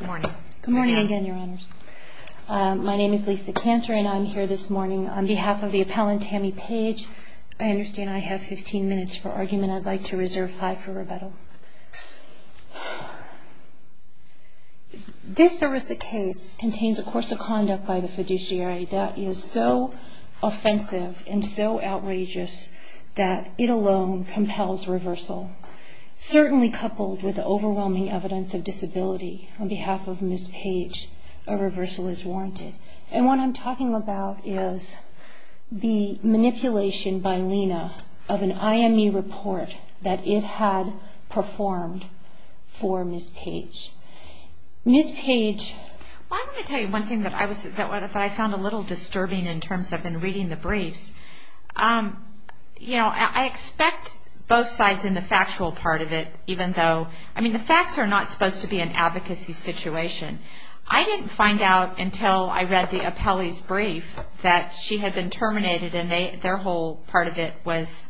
Good morning. My name is Lisa Cantor and I'm here this morning on behalf of the appellant Tammy Page. I understand I have 15 minutes for argument. I'd like to reserve five for rebuttal. This erisic case contains a course of conduct by the fiduciary that is so offensive and so outrageous that it alone compels reversal. Certainly coupled with the overwhelming evidence of disability on behalf of Ms. Page, a reversal is warranted. What I'm talking about is the manipulation by Lena of an IME report that it had performed for Ms. Page. Ms. Page... Well, I want to tell you one thing that I found a little disturbing in terms of reading the briefs. You know, I expect both sides in the factual part of it, even though, I mean, the facts are not supposed to be an advocacy situation. I didn't find out until I read the appellee's brief that she had been terminated and their whole part of it was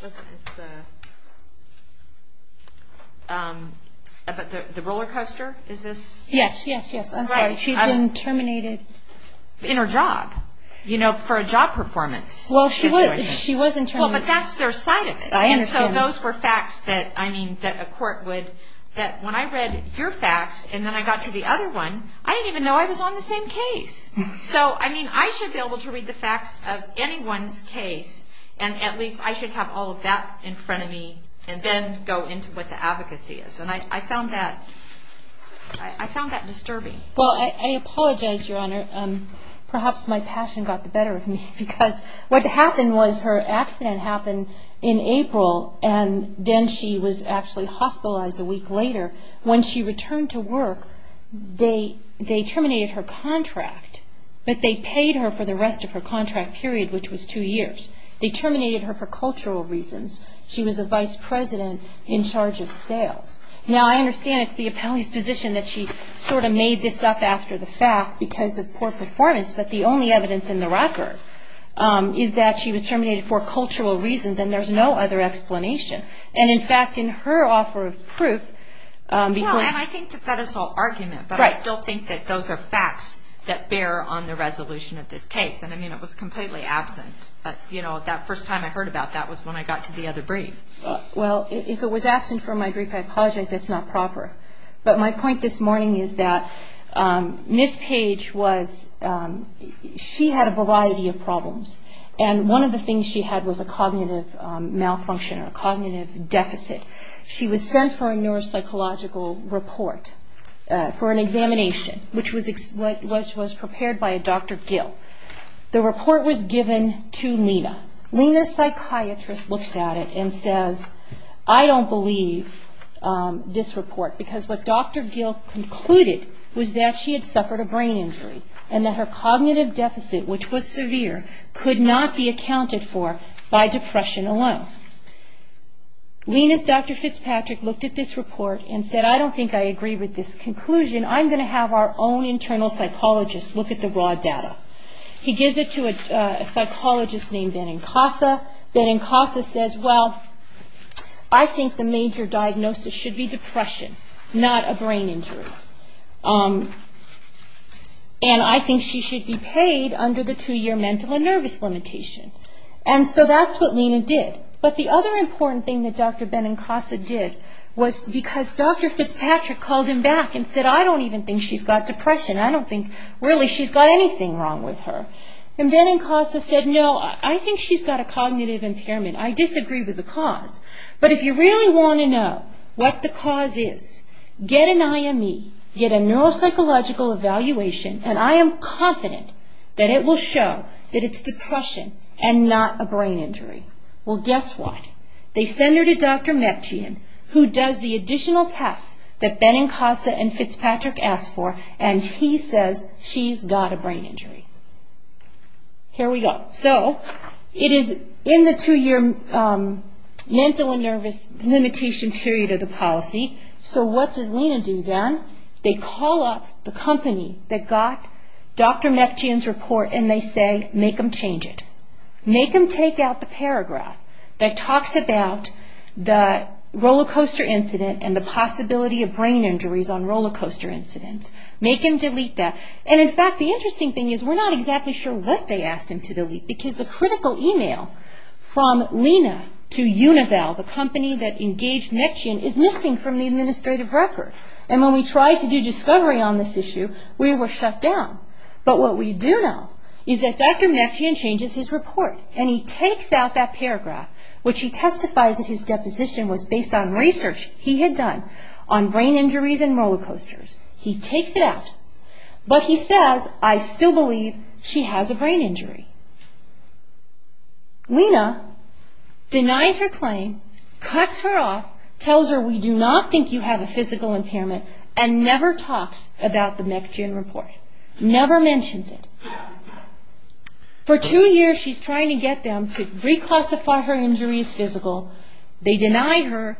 the rollercoaster, is this? Yes, yes, yes. I'm sorry. She'd been terminated... In her job, you know, for a job performance. Well, she was in termination. Well, but that's their side of it. I understand. And so those were facts that, I mean, that a court would... that when I read your facts and then I got to the other one, I didn't even know I was on the same case. So, I mean, I should be able to read the facts of anyone's case and at least I should have all of that in front of me and then go into what the Well, I apologize, Your Honor. Perhaps my passion got the better of me because what happened was her accident happened in April and then she was actually hospitalized a week later. When she returned to work, they terminated her contract, but they paid her for the rest of her contract period, which was two years. They terminated her for cultural reasons. She was a vice president in charge of sales. Now, I understand it's the appellee's position that she sort of made this up after the fact because of poor performance, but the only evidence in the record is that she was terminated for cultural reasons and there's no other explanation. And, in fact, in her offer of proof, because... Well, and I think to fed us all argument, but I still think that those are facts that bear on the resolution of this case. And, I mean, it was completely absent, but, you know, that first time I heard about that was when I got to the other brief. Well, if it was absent from my brief, I apologize. That's not proper. But my point this morning is that Ms. Page was... She had a variety of problems and one of the things she had was a cognitive malfunction or a cognitive deficit. She was sent for a neuropsychological report for an examination, which was prepared by a Dr. Gill. The report was given to Lena. Lena's psychiatrist looks at it and says, I don't believe this report because what Dr. Gill concluded was that she had suffered a brain injury and that her cognitive deficit, which was severe, could not be accounted for by depression alone. Lena's Dr. Fitzpatrick looked at this report and said, I don't think I agree with this conclusion. I'm going to have our own internal psychologist look at the raw data. He gives it to a psychologist named Ben Inkasa. Ben Inkasa says, well, I think the major diagnosis should be depression, not a brain injury. And I think she should be paid under the two year mental and nervous limitation. And so that's what Lena did. But the other important thing that Dr. Ben Inkasa did was because Dr. Fitzpatrick called him back and said, I don't even think she's got depression. I don't think really she's got anything wrong with her. And Ben Inkasa said, no, I think she's got a cognitive impairment. I disagree with the cause. But if you really want to know what the cause is, get an IME, get a neuropsychological evaluation, and I am confident that it will show that it's depression and not a brain injury. Well, guess what? They send her to Dr. Mepchian, who does the additional tests that Ben Inkasa and Fitzpatrick asked for, and he says she's got a brain injury. Here we go. So it is in the two year mental and nervous limitation period of the policy. So what does Lena do then? They call up the company that got Dr. Mepchian's report and they say, make them change it. Make them take out the paragraph that talks about the rollercoaster incident and the possibility of brain injuries on rollercoaster incidents. Make them delete that. And in fact, the interesting thing is we're not exactly sure what they asked him to delete because the critical email from Lena to Univell, the company that engaged Mepchian, is missing from the administrative record. And when we tried to do discovery on this issue, we were shut down. But what we do know is that Dr. Mepchian changes his report and he takes out that paragraph, which he testifies that his deposition was based on research he had done on brain injuries and rollercoasters. He takes it out. But he says, I still believe she has a brain injury. Lena denies her claim, cuts her off, tells her we do not think you have a physical impairment, and never talks about the Mepchian report. Never mentions it. For two years she's trying to get them to reclassify her injury as physical. They deny her.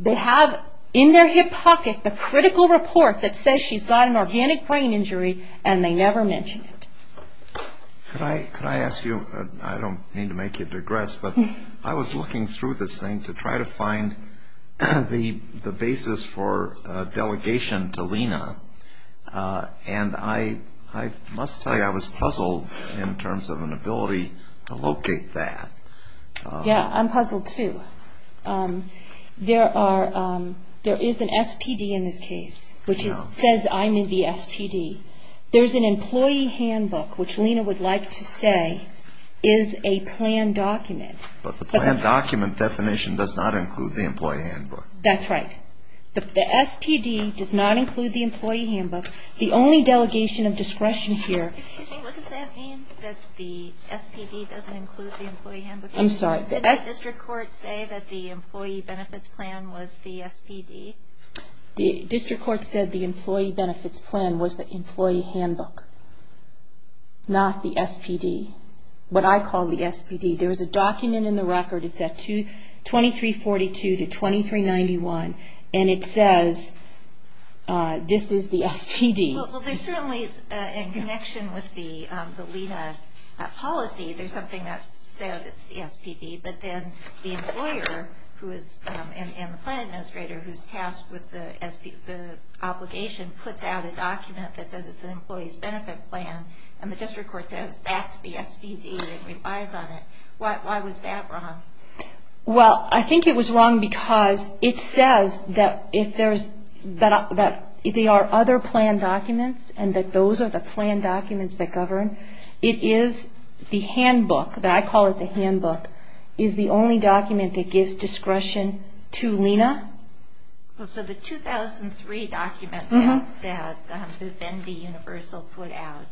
They have in their hip pocket the critical report that says she's got an organic brain injury and they never mention it. Can I ask you, I don't mean to make you digress, but I was looking through this thing to try to find the basis for delegation to Lena. And I must tell you I was puzzled in terms of an ability to locate that. Yeah, I'm puzzled too. There is an SPD in this case, which says I'm in the SPD. There's an employee handbook, which Lena would like to say is a planned document. But the planned document definition does not include the employee handbook. That's right. The SPD does not include the employee handbook. The only delegation of discretion here... Excuse me, what does that mean that the SPD doesn't include the employee handbook? I'm sorry. Did the district court say that the employee benefits plan was the SPD? The district court said the employee benefits plan was the employee handbook, not the SPD. What I call the SPD. There is a document in the SBD-991, and it says this is the SPD. Well, there's certainly in connection with the Lena policy, there's something that says it's the SPD. But then the employer and the plan administrator who's tasked with the obligation puts out a document that says it's an employee's benefit plan, and the district court says that's the SPD and relies on it. Why was that wrong? Well, I think it was wrong because it says that if there's...that they are other planned documents and that those are the planned documents that govern. It is the handbook, that I call it the handbook, is the only document that gives discretion to Lena. Well, so the 2003 document that the Venn D Universal put out,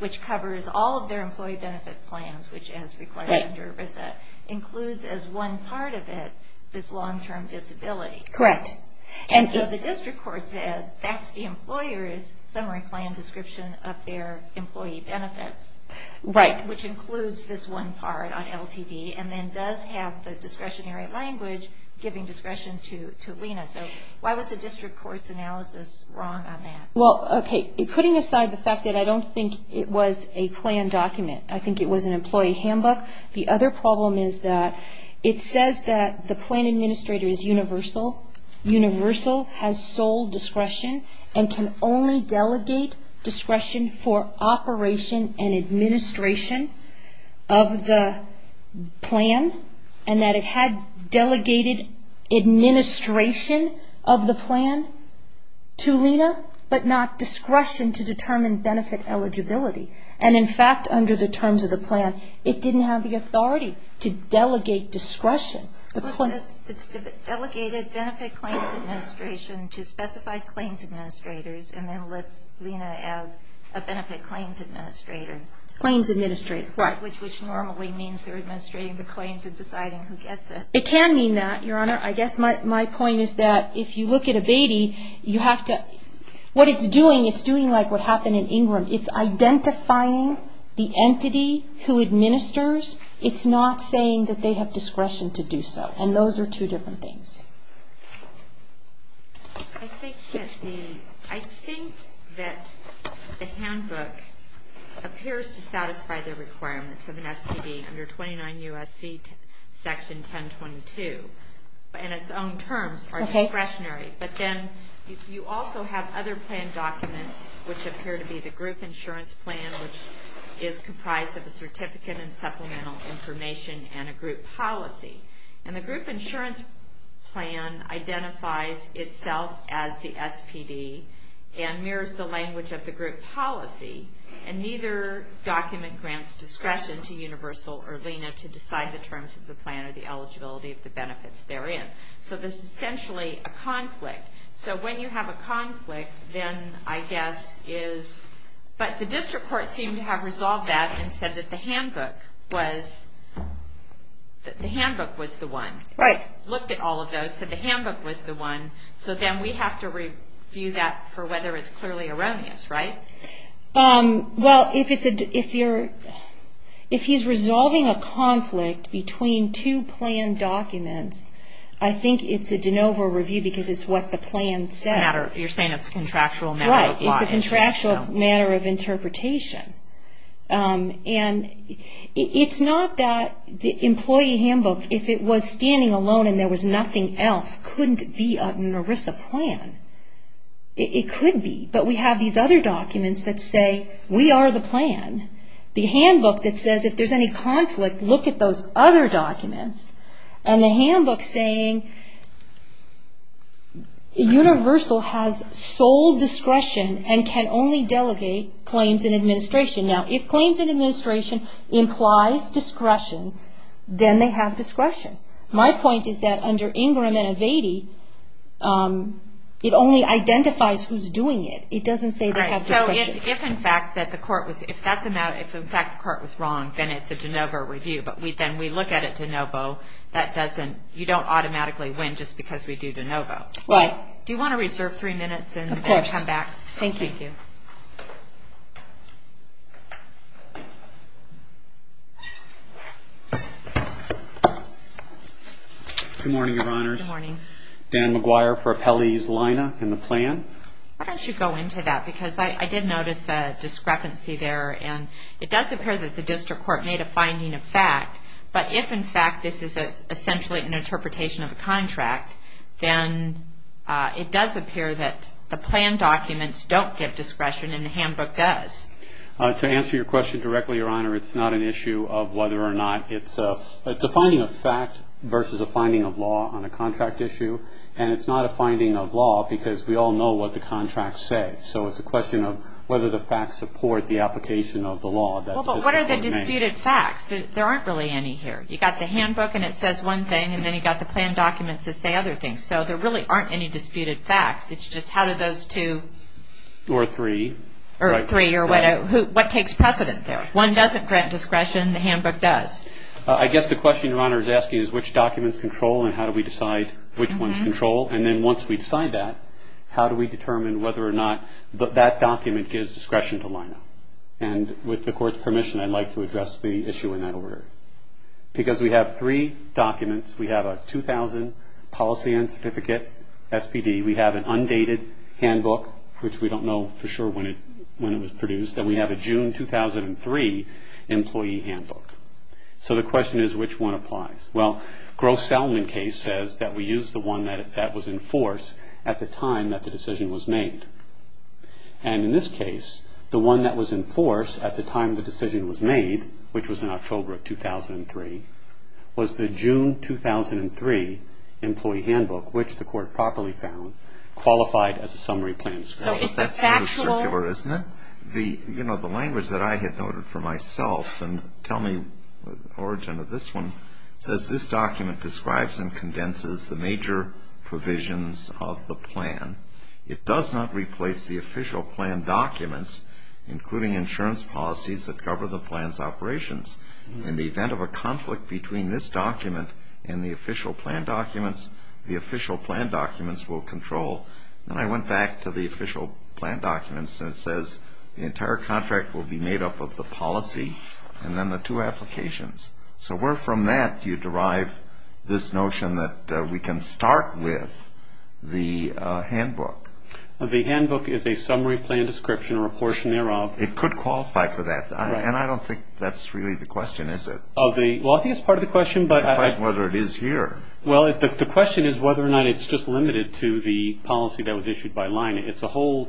which covers all of their employee benefit plans, which as required under VISA, includes as one part of it this long-term disability. Correct. And so the district court said that's the employer's summary plan description of their employee benefits. Right. Which includes this one part on LTD and then does have the discretionary language giving discretion to Lena. So why was the district court's analysis wrong on that? Well, okay, putting aside the fact that I don't think it was a planned document, I think it was an employee handbook. The other problem is that it says that the plan administrator is universal. Universal has sole discretion and can only delegate discretion for operation and administration of the plan and that it had delegated administration of the plan to Lena, but not discretion to determine benefit eligibility. And in fact, under the terms of the plan, it didn't have the authority to delegate discretion. It says it's delegated benefit claims administration to specified claims administrators and then lists Lena as a benefit claims administrator. Claims administrator. Right. Which normally means they're administrating the claims and deciding who gets it. It can mean that, Your Honor. I guess my point is that if you look at Ingram, it's identifying the entity who administers. It's not saying that they have discretion to do so. And those are two different things. I think that the handbook appears to satisfy the requirements of an SPD under 29 U.S.C. section 1022, but in its own terms are discretionary. But then you also have other plan documents which appear to be the group insurance plan, which is comprised of a certificate and supplemental information and a group policy. And the group insurance plan identifies itself as the SPD and mirrors the language of the group policy and neither document grants discretion to Universal or Lena to decide the terms of the plan or the eligibility of the benefits therein. So there's essentially a conflict. So when you have a conflict, then I guess is, but the district court seemed to have resolved that and said that the handbook was the one. Right. Looked at all of those, said the handbook was the one. So then we have to review that for whether it's clearly erroneous, right? Well, if he's resolving a conflict between two plan documents, I think it's a de novo review because it's what the plan says. You're saying it's a contractual matter of law. Right. It's a contractual matter of interpretation. And it's not that the employee handbook, if it was standing alone and there was nothing else, couldn't be an ERISA plan. It could be. But we have these other documents that say, we are the plan. The handbook that says, if there's any conflict, look at those other documents. And the handbook saying, Universal has sole discretion and can only delegate claims and administration. Now, if claims and administration implies discretion, then they have discretion. My point is that under Ingram and Avady, it only identifies who's doing it. It doesn't say they have discretion. So if, in fact, the court was wrong, then it's a de novo review. But then we look at it de novo. You don't automatically win just because we do de novo. Right. Do you want to reserve three minutes and then come back? Of course. Thank you. Thank you. Good morning, Your Honors. Good morning. Dan McGuire for Appellees Lina and the plan. Why don't you go into that? Because I didn't want to get into that. I did notice a discrepancy there. And it does appear that the district court made a finding of fact. But if, in fact, this is essentially an interpretation of a contract, then it does appear that the plan documents don't give discretion and the handbook does. To answer your question directly, Your Honor, it's not an issue of whether or not it's a finding of fact versus a finding of law on a contract issue. And it's not a finding of law because we all know what the contracts say. So it's a question of whether the facts support the application of the law that the district court made. Well, but what are the disputed facts? There aren't really any here. You've got the handbook and it says one thing. And then you've got the plan documents that say other things. So there really aren't any disputed facts. It's just how do those two... Or three. Or three. Or what takes precedent there? One doesn't grant discretion. The handbook does. I guess the question, Your Honor, is asking is which documents control and how do we decide which ones control. And then once we decide that, how do we determine whether or not that document gives discretion to lineup? And with the court's permission, I'd like to address the issue in that order. Because we have three documents. We have a 2000 policy and certificate SPD. We have an undated handbook, which we don't know for sure when it was produced. And we have a June 2003 employee handbook. So the question is which one applies? Well, Gross Salmon case says that we use the one that was in force at the time that the decision was made. And in this case, the one that was in force at the time the decision was made, which was in October of 2003, was the June 2003 employee handbook, which the court properly found, qualified as a summary plan. So is the factual... That's sort of circular, isn't it? The language that I had noted for and condenses the major provisions of the plan. It does not replace the official plan documents, including insurance policies that govern the plan's operations. In the event of a conflict between this document and the official plan documents, the official plan documents will control. And I went back to the official plan documents and it says the entire contract will be made up of the policy and then the two applications. So where from that do you derive this notion that we can start with the handbook? The handbook is a summary plan description or a portion thereof. It could qualify for that. And I don't think that's really the question, is it? Well, I think it's part of the question, but... It's a question whether it is here. Well, the question is whether or not it's just limited to the policy that was issued by line. It's a whole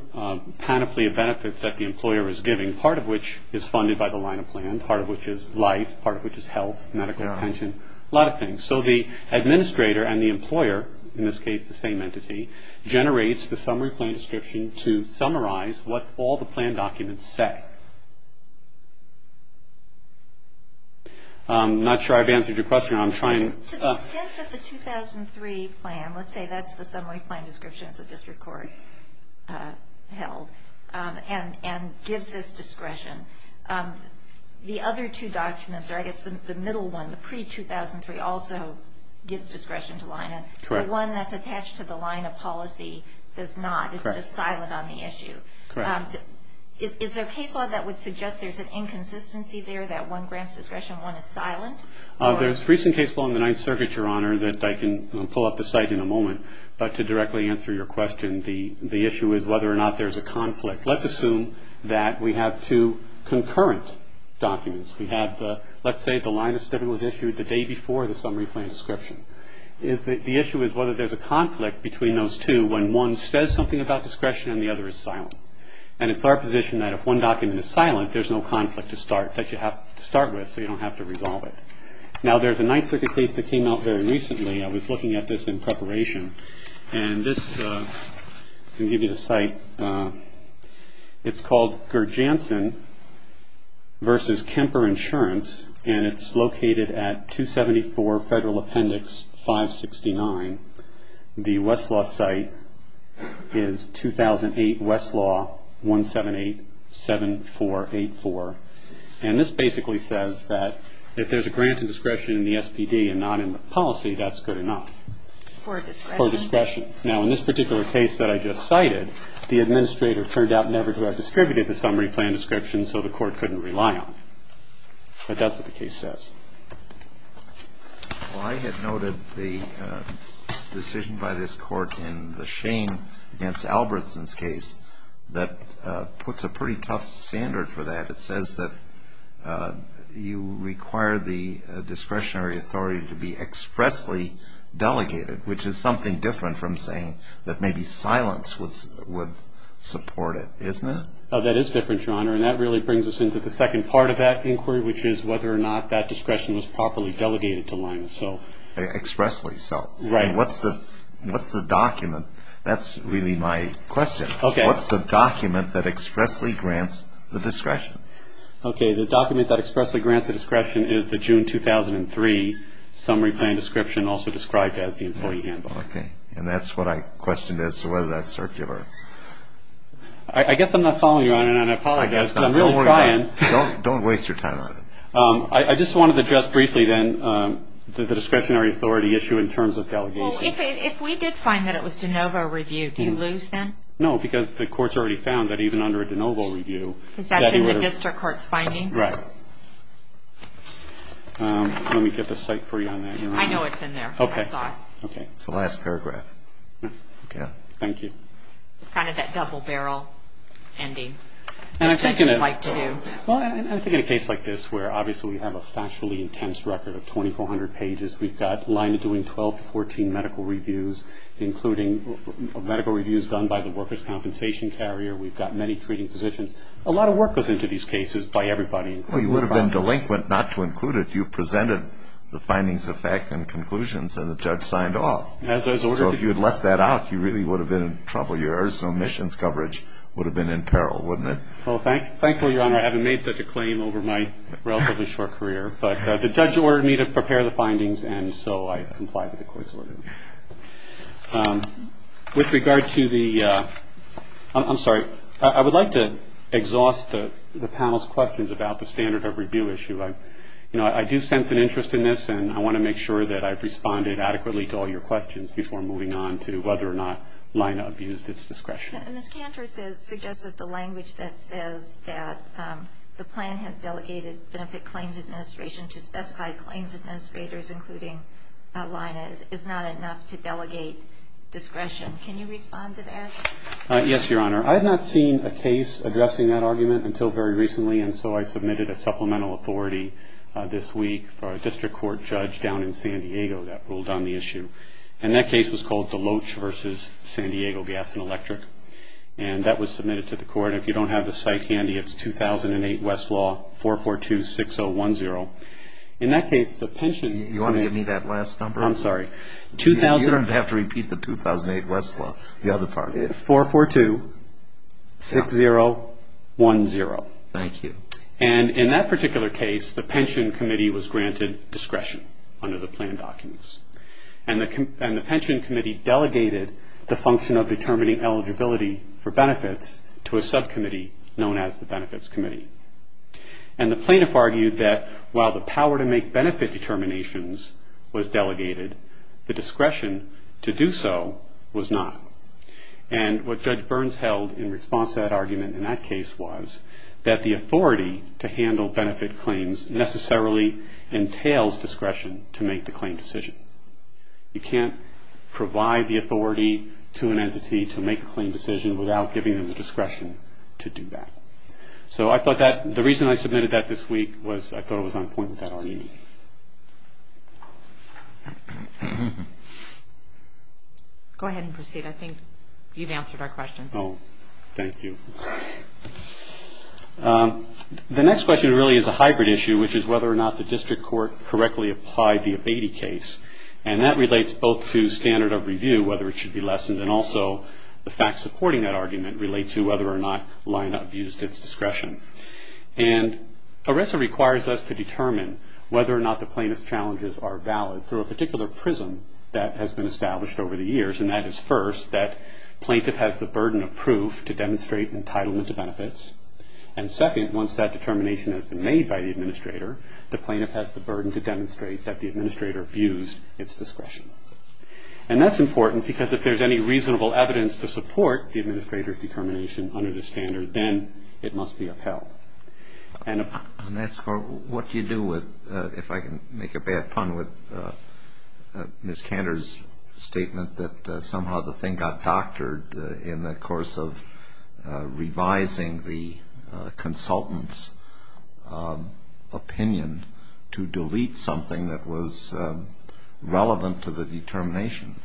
panoply of benefits that the employer is giving, part of which is funded by the line of plan, part of which is life, part of which is health, medical, pension, a lot of things. So the administrator and the employer, in this case the same entity, generates the summary plan description to summarize what all the plan documents say. I'm not sure I've answered your question. I'm trying... To the extent that the 2003 plan, let's say that's the summary plan description, it's a district court held, and gives this discretion. The other two documents, or I guess the middle one, the pre-2003 also gives discretion to line. Correct. The one that's attached to the line of policy does not. Correct. It's just silent on the issue. Correct. Is there a case law that would suggest there's an inconsistency there, that one grants discretion, one is silent? There's a recent case law in the Ninth Circuit, Your Honor, that I can pull up the site in a moment. But to directly answer your question, the issue is whether or not there's a conflict. Let's assume that we have two concurrent documents. We have, let's say, the line of study was issued the day before the summary plan description. The issue is whether there's a conflict between those two when one says something about discretion and the other is silent. And it's our position that if one document is silent, there's no conflict to start, that you have to start with so you don't have to resolve it. Now, there's a Ninth Circuit case that came out very recently. I was looking at this in preparation. And this, I'm going to give you the site. It's called Gerjanson v. Kemper Insurance, and it's located at 274 Federal Appendix 569. The Westlaw site is 2008 Westlaw 1787484. And this basically says that if there's a grant of discretion in the SPD and not in the policy, that's good enough. For discretion. For discretion. Now, in this particular case that I just cited, the administrator turned out never to have distributed the summary plan description, so the court couldn't rely on it. But that's what the case says. Well, I had noted the decision by this Court in the Shane against Albertson's case that puts a pretty tough standard for that. It says that you require the discretionary authority to be expressly delegated, which is something different from saying that maybe silence would support it, isn't it? That is different, Your Honor. And that really brings us into the second part of that inquiry, which is whether or not that discretion was properly delegated to Linus. Expressly, so. Right. And what's the document? That's really my question. Okay. What's the document that expressly grants the discretion? Okay. The document that expressly grants the discretion is the June 2003 summary plan description, also described as the employee handbook. Okay. And that's what I questioned as to whether that's circular. I guess I'm not following you, Your Honor, and I apologize. I guess not. Because I'm really trying. Don't worry about it. Don't waste your time on it. I just wanted to address briefly, then, the discretionary authority issue in terms of delegation. Well, if we did find that it was de novo reviewed, do you lose then? No, because the court's already found that even under a de novo review that he would have Is that in the district court's finding? Right. Let me get the cite for you on that, Your Honor. I know it's in there. I saw it. Okay. It's the last paragraph. Okay. Thank you. It's kind of that double barrel ending. And I think in a Which I just like to do. Well, I think in a case like this, where, obviously, we have a factually intense record of 2,400 pages, we've got Linus doing 12 to 14 medical reviews, including medical reviews done by the workers' compensation carrier. We've got many treating physicians. A lot of work goes into these cases by everybody. Well, you would have been delinquent not to include it. You presented the findings, the fact, and conclusions, and the judge signed off. As I was ordered to So if you had left that out, you really would have been in trouble. Your arson omissions coverage would have been in peril, wouldn't it? Well, thankfully, Your Honor, I haven't made such a claim over my relatively short career. But the judge ordered me to prepare the findings, and so I complied with the court's order. With regard to the I'm sorry. I would like to exhaust the panel's questions about the standard of review issue. You know, I do sense an interest in this, and I want to make sure that I've responded adequately to all your questions before moving on to whether or not Lina abused its discretion. Ms. Cantor suggested the language that says that the plan has delegated benefit claims administration to specified claims administrators, including Lina, is not enough to delegate discretion. Can you respond to that? Yes, Your Honor. I have not seen a case addressing that argument until very recently, and so I submitted a supplemental authority this week for a district court judge down in San Diego that ruled on the issue. And that case was called Deloach v. San Diego Gas and Electric. And that was submitted to the court. And if you don't have the site handy, it's 2008 West Law, 442-6010. In that case, the pension... Do you want to give me that last number? I'm sorry. You don't have to repeat the 2008 West Law. The other part. 442-6010. Thank you. And in that particular case, the pension committee was granted discretion under the plan documents. And the pension committee delegated the function of determining eligibility for benefits to a subcommittee known as the Benefits Committee. And the plaintiff argued that while the power to make benefit determinations was delegated, the discretion to do so was not. And what Judge Burns held in response to that argument in that case was that the authority to handle benefit claims necessarily entails discretion to make the claim decision. You can't provide the authority to an entity to make a claim decision without giving them the discretion to do that. So I thought that... The reason I submitted that this week was I thought it was on point with that argument. Go ahead and proceed. I think you've answered our questions. Oh, thank you. The next question really is a hybrid issue, which is whether or not the district court correctly applied the Abatey case, and that relates both to standard of review, whether it should be lessened, and also the facts supporting that argument relate to whether or not lineup used its discretion. And ERESA requires us to determine whether or not the plaintiff's challenges are valid through a particular prism that has been established over the years, and that is first, that plaintiff has the burden of proof to demonstrate entitlement to benefits, and second, once that determination has been made by the administrator, the plaintiff has the burden to demonstrate that the administrator abused its discretion. And that's important because if there's any reasonable evidence to that standard, then it must be upheld. And that's for what do you do with, if I can make a bad pun with Ms. Cantor's statement that somehow the thing got doctored in the course of revising the consultant's opinion to delete something that was relevant to the determination.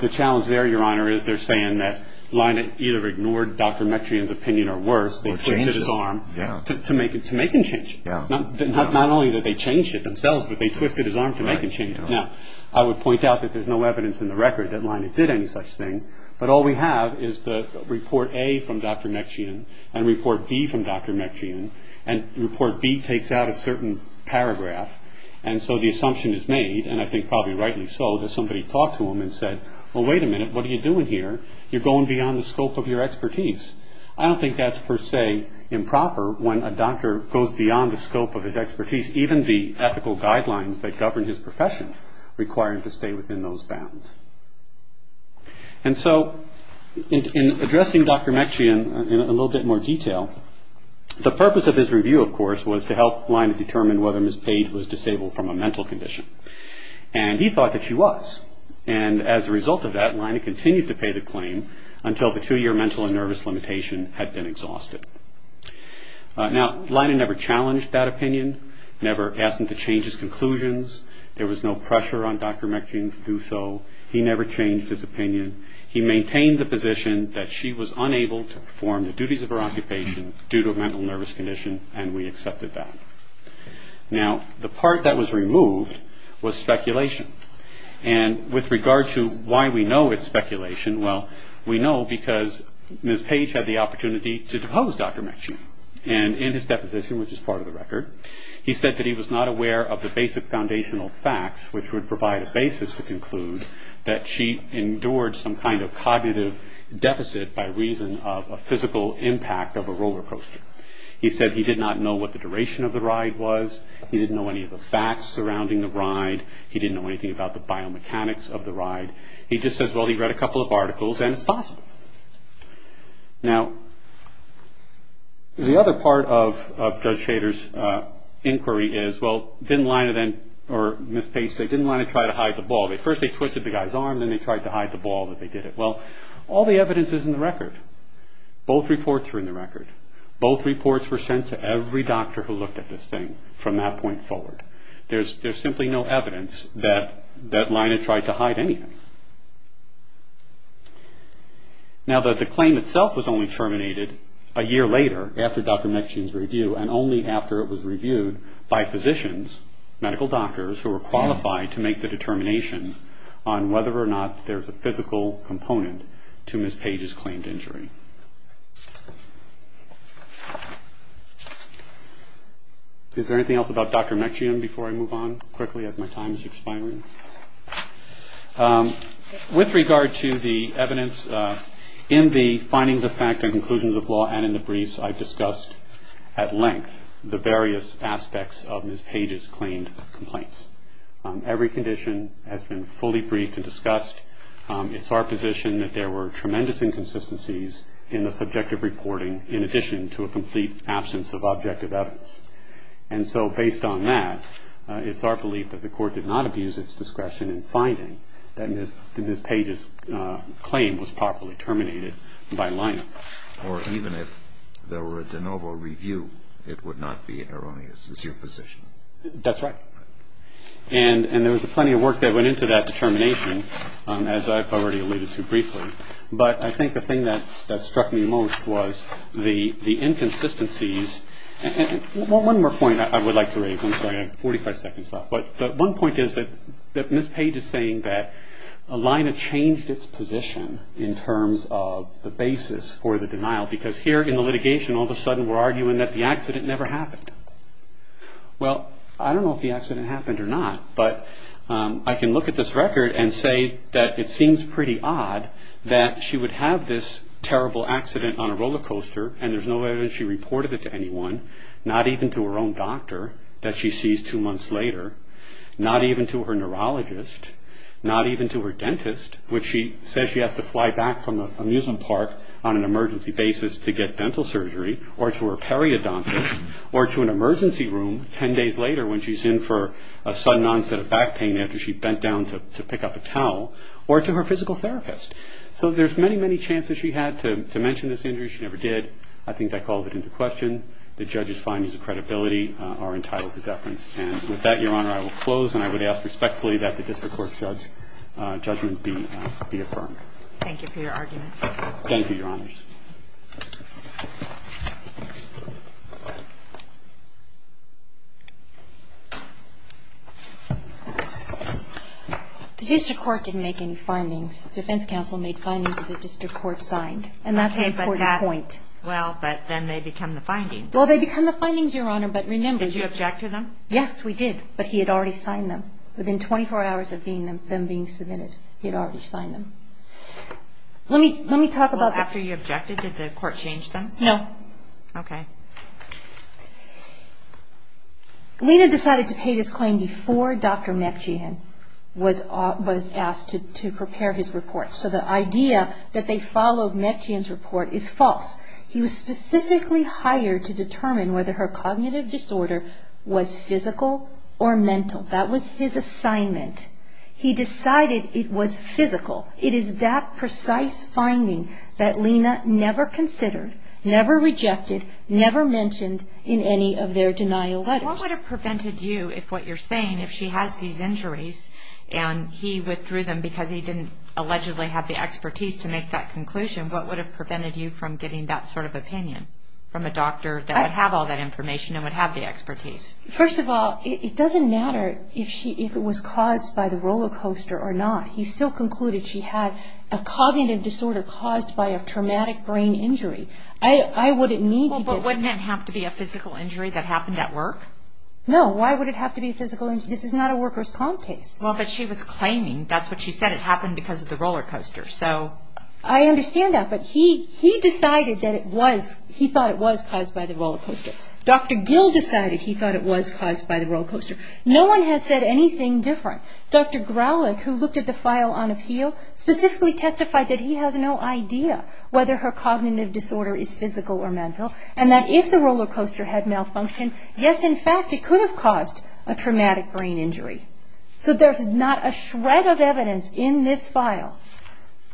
The challenge there, Your Honor, is they're saying that lineup either ignored Dr. Metrian's opinion or worse, they twisted his arm to make him change it. Not only did they change it themselves, but they twisted his arm to make him change it. Now, I would point out that there's no evidence in the record that lineup did any such thing, but all we have is the report A from Dr. Metrian and report B from Dr. Metrian, and report B takes out a certain paragraph, and so the assumption is made, and I think probably rightly so, that somebody talked to him and said, well, wait a minute, what are you doing here? You're going beyond the scope of your expertise. I don't think that's, per se, improper when a doctor goes beyond the scope of his expertise, even the ethical guidelines that govern his profession require him to stay within those bounds. And so, in addressing Dr. Metrian in a little bit more detail, the purpose of his review, of course, was to help lineup determine whether Ms. Page was disabled from a mental condition. And he thought that she was. And as a result of that, lineup continued to pay the claim until the two-year mental and nervous limitation had been exhausted. Now, lineup never challenged that opinion, never asked him to change his conclusions. There was no pressure on Dr. Metrian to do so. He never changed his opinion. He maintained the position that she was unable to perform the duties of her occupation due to a mental nervous condition, and we accepted that. Now, the part that was removed was speculation. And with regard to why we know it's speculation, well, we know because Ms. Page had the opportunity to depose Dr. Metrian. And in his deposition, which is part of the record, he said that he was not aware of the basic foundational facts, which would provide a basis to conclude that she endured some kind of cognitive deficit by reason of a physical impact of a roller coaster. He said he did not know what the duration of the ride was. He didn't know any of the facts surrounding the ride. He didn't know anything about the biomechanics of the ride. He just says, well, he read a couple of articles, and it's possible. Now, the other part of Judge Shader's inquiry is, well, didn't line it in, or Ms. Page said, didn't line it in trying to hide the ball. First they twisted the guy's arm, then they tried to hide the ball that they did it. Well, all the evidence is in the record. Both reports are in the record. Both reports were sent to every doctor who looked at this thing from that point forward. There's simply no evidence that that line had tried to hide anything. Now, the claim itself was only terminated a year later, after Dr. Mechian's review, and only after it was reviewed by physicians, medical doctors, who were qualified to make the determination on whether or not there's a physical component to Ms. Page's claimed injury. Is there anything else about Dr. Mechian before I move on quickly, as my time is expiring? With regard to the evidence in the findings of fact and conclusions of law, and in the briefs I've discussed at length, the various aspects of Ms. Page's claimed complaints. It's our position that there were tremendous inconsistencies in the subjective reporting, in addition to a complete absence of objective evidence. And so based on that, it's our belief that the court did not abuse its discretion in finding that Ms. Page's claim was properly terminated by lineup. Or even if there were a de novo review, it would not be erroneous. Is your position. That's right. And there was plenty of work that went into that determination, as I've already alluded to briefly. But I think the thing that struck me most was the inconsistencies. And one more point I would like to raise. I'm sorry, I have 45 seconds left. But one point is that Ms. Page is saying that a lineup changed its position in terms of the basis for the denial. Because here in the litigation, all of a sudden we're arguing that the accident never happened. Well, I don't know if the accident happened or not. But I can look at this record and say that it seems pretty odd that she would have this terrible accident on a roller coaster, and there's no evidence she reported it to anyone. Not even to her own doctor that she sees two months later. Not even to her neurologist. Not even to her dentist, which she says she has to fly back from an amusement park on an emergency basis to get dental surgery. Or to her periodontist. Or to an emergency room 10 days later when she's in for a sudden onset of back pain after she bent down to pick up a towel. Or to her physical therapist. So there's many, many chances she had to mention this injury. She never did. I think that calls it into question. The judge's findings of credibility are entitled to deference. And with that, Your Honor, I will close. And I would ask respectfully that the district court's judgment be affirmed. Thank you for your argument. Thank you, Your Honors. The district court didn't make any findings. Defense counsel made findings that the district court signed. And that's an important point. Well, but then they become the findings. Well, they become the findings, Your Honor. But remember- Did you object to them? Yes, we did. But he had already signed them. Within 24 hours of them being submitted, he had already signed them. Let me talk about- Well, after you objected, did the court change them? No. Okay. Lena decided to pay this claim before Dr. Mepchian was asked to prepare his report. So the idea that they followed Mepchian's report is false. He was specifically hired to determine whether her cognitive disorder was physical or mental. That was his assignment. He decided it was physical. It is that precise finding that Lena never considered, never rejected, never mentioned in any of their denial letters. What would have prevented you, if what you're saying, if she has these injuries and he withdrew them because he didn't allegedly have the expertise to make that conclusion, what would have prevented you from getting that sort of opinion from a doctor that would have all that information and would have the expertise? First of all, it doesn't matter if it was caused by the roller coaster or not. He still concluded she had a cognitive disorder caused by a traumatic brain injury. I wouldn't need to get- Well, but wouldn't it have to be a physical injury that happened at work? No. Why would it have to be a physical injury? This is not a worker's comp case. Well, but she was claiming, that's what she said, it happened because of the roller coaster, so- I understand that, but he decided that it was, he thought it was caused by the roller coaster. Dr. Gill decided he thought it was caused by the roller coaster. No one has said anything different. Dr. Growlick, who looked at the file on appeal, specifically testified that he has no idea whether her cognitive disorder is physical or mental and that if the roller coaster had malfunctioned, yes, in fact, it could have caused a traumatic brain injury. So there's not a shred of evidence in this file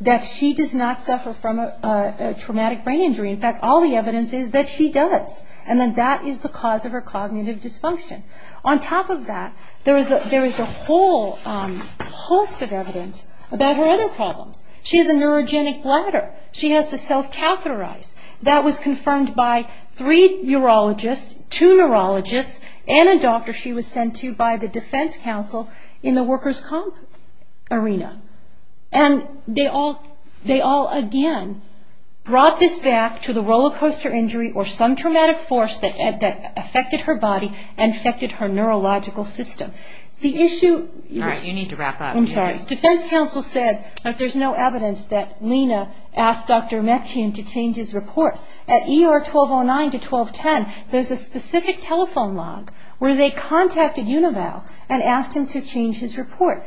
that she does not suffer from a traumatic brain injury. In fact, all the evidence is that she does and that that is the cause of her cognitive dysfunction. On top of that, there is a whole host of evidence about her other problems. She has a neurogenic bladder. She has to self-catheterize. That was confirmed by three urologists, two neurologists, and a doctor she was sent to by the defense council in the worker's comp arena. And they all, again, brought this back to the roller coaster injury or some traumatic force that affected her body and affected her neurological system. The issue... All right, you need to wrap up. I'm sorry. The defense council said that there's no evidence that Lena asked Dr. Mechian to change his report. At ER 1209 to 1210, there's a specific telephone log where they contacted Unival and asked him to change his report.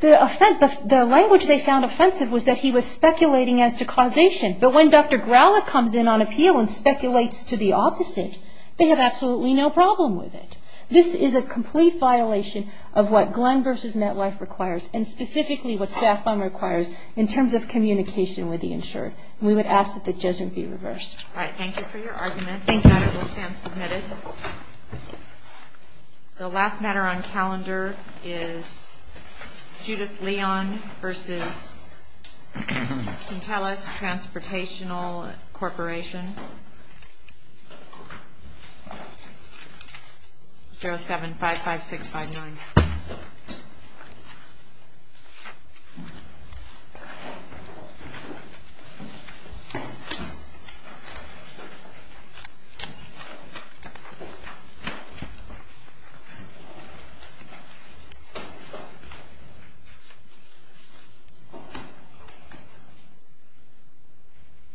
The language they found offensive was that he was speculating as to causation. But when Dr. Growler comes in on appeal and speculates to the opposite, they have absolutely no problem with it. This is a complete violation of what Glenn v. MetLife requires and specifically what SAFUN requires in terms of communication with the insured. We would ask that the judgment be reversed. All right, thank you for your argument. Thank you. That will stand submitted. Thank you. The last matter on calendar is Judith Leon v. Kinteles Transportation Corporation. 0755659. Thank you.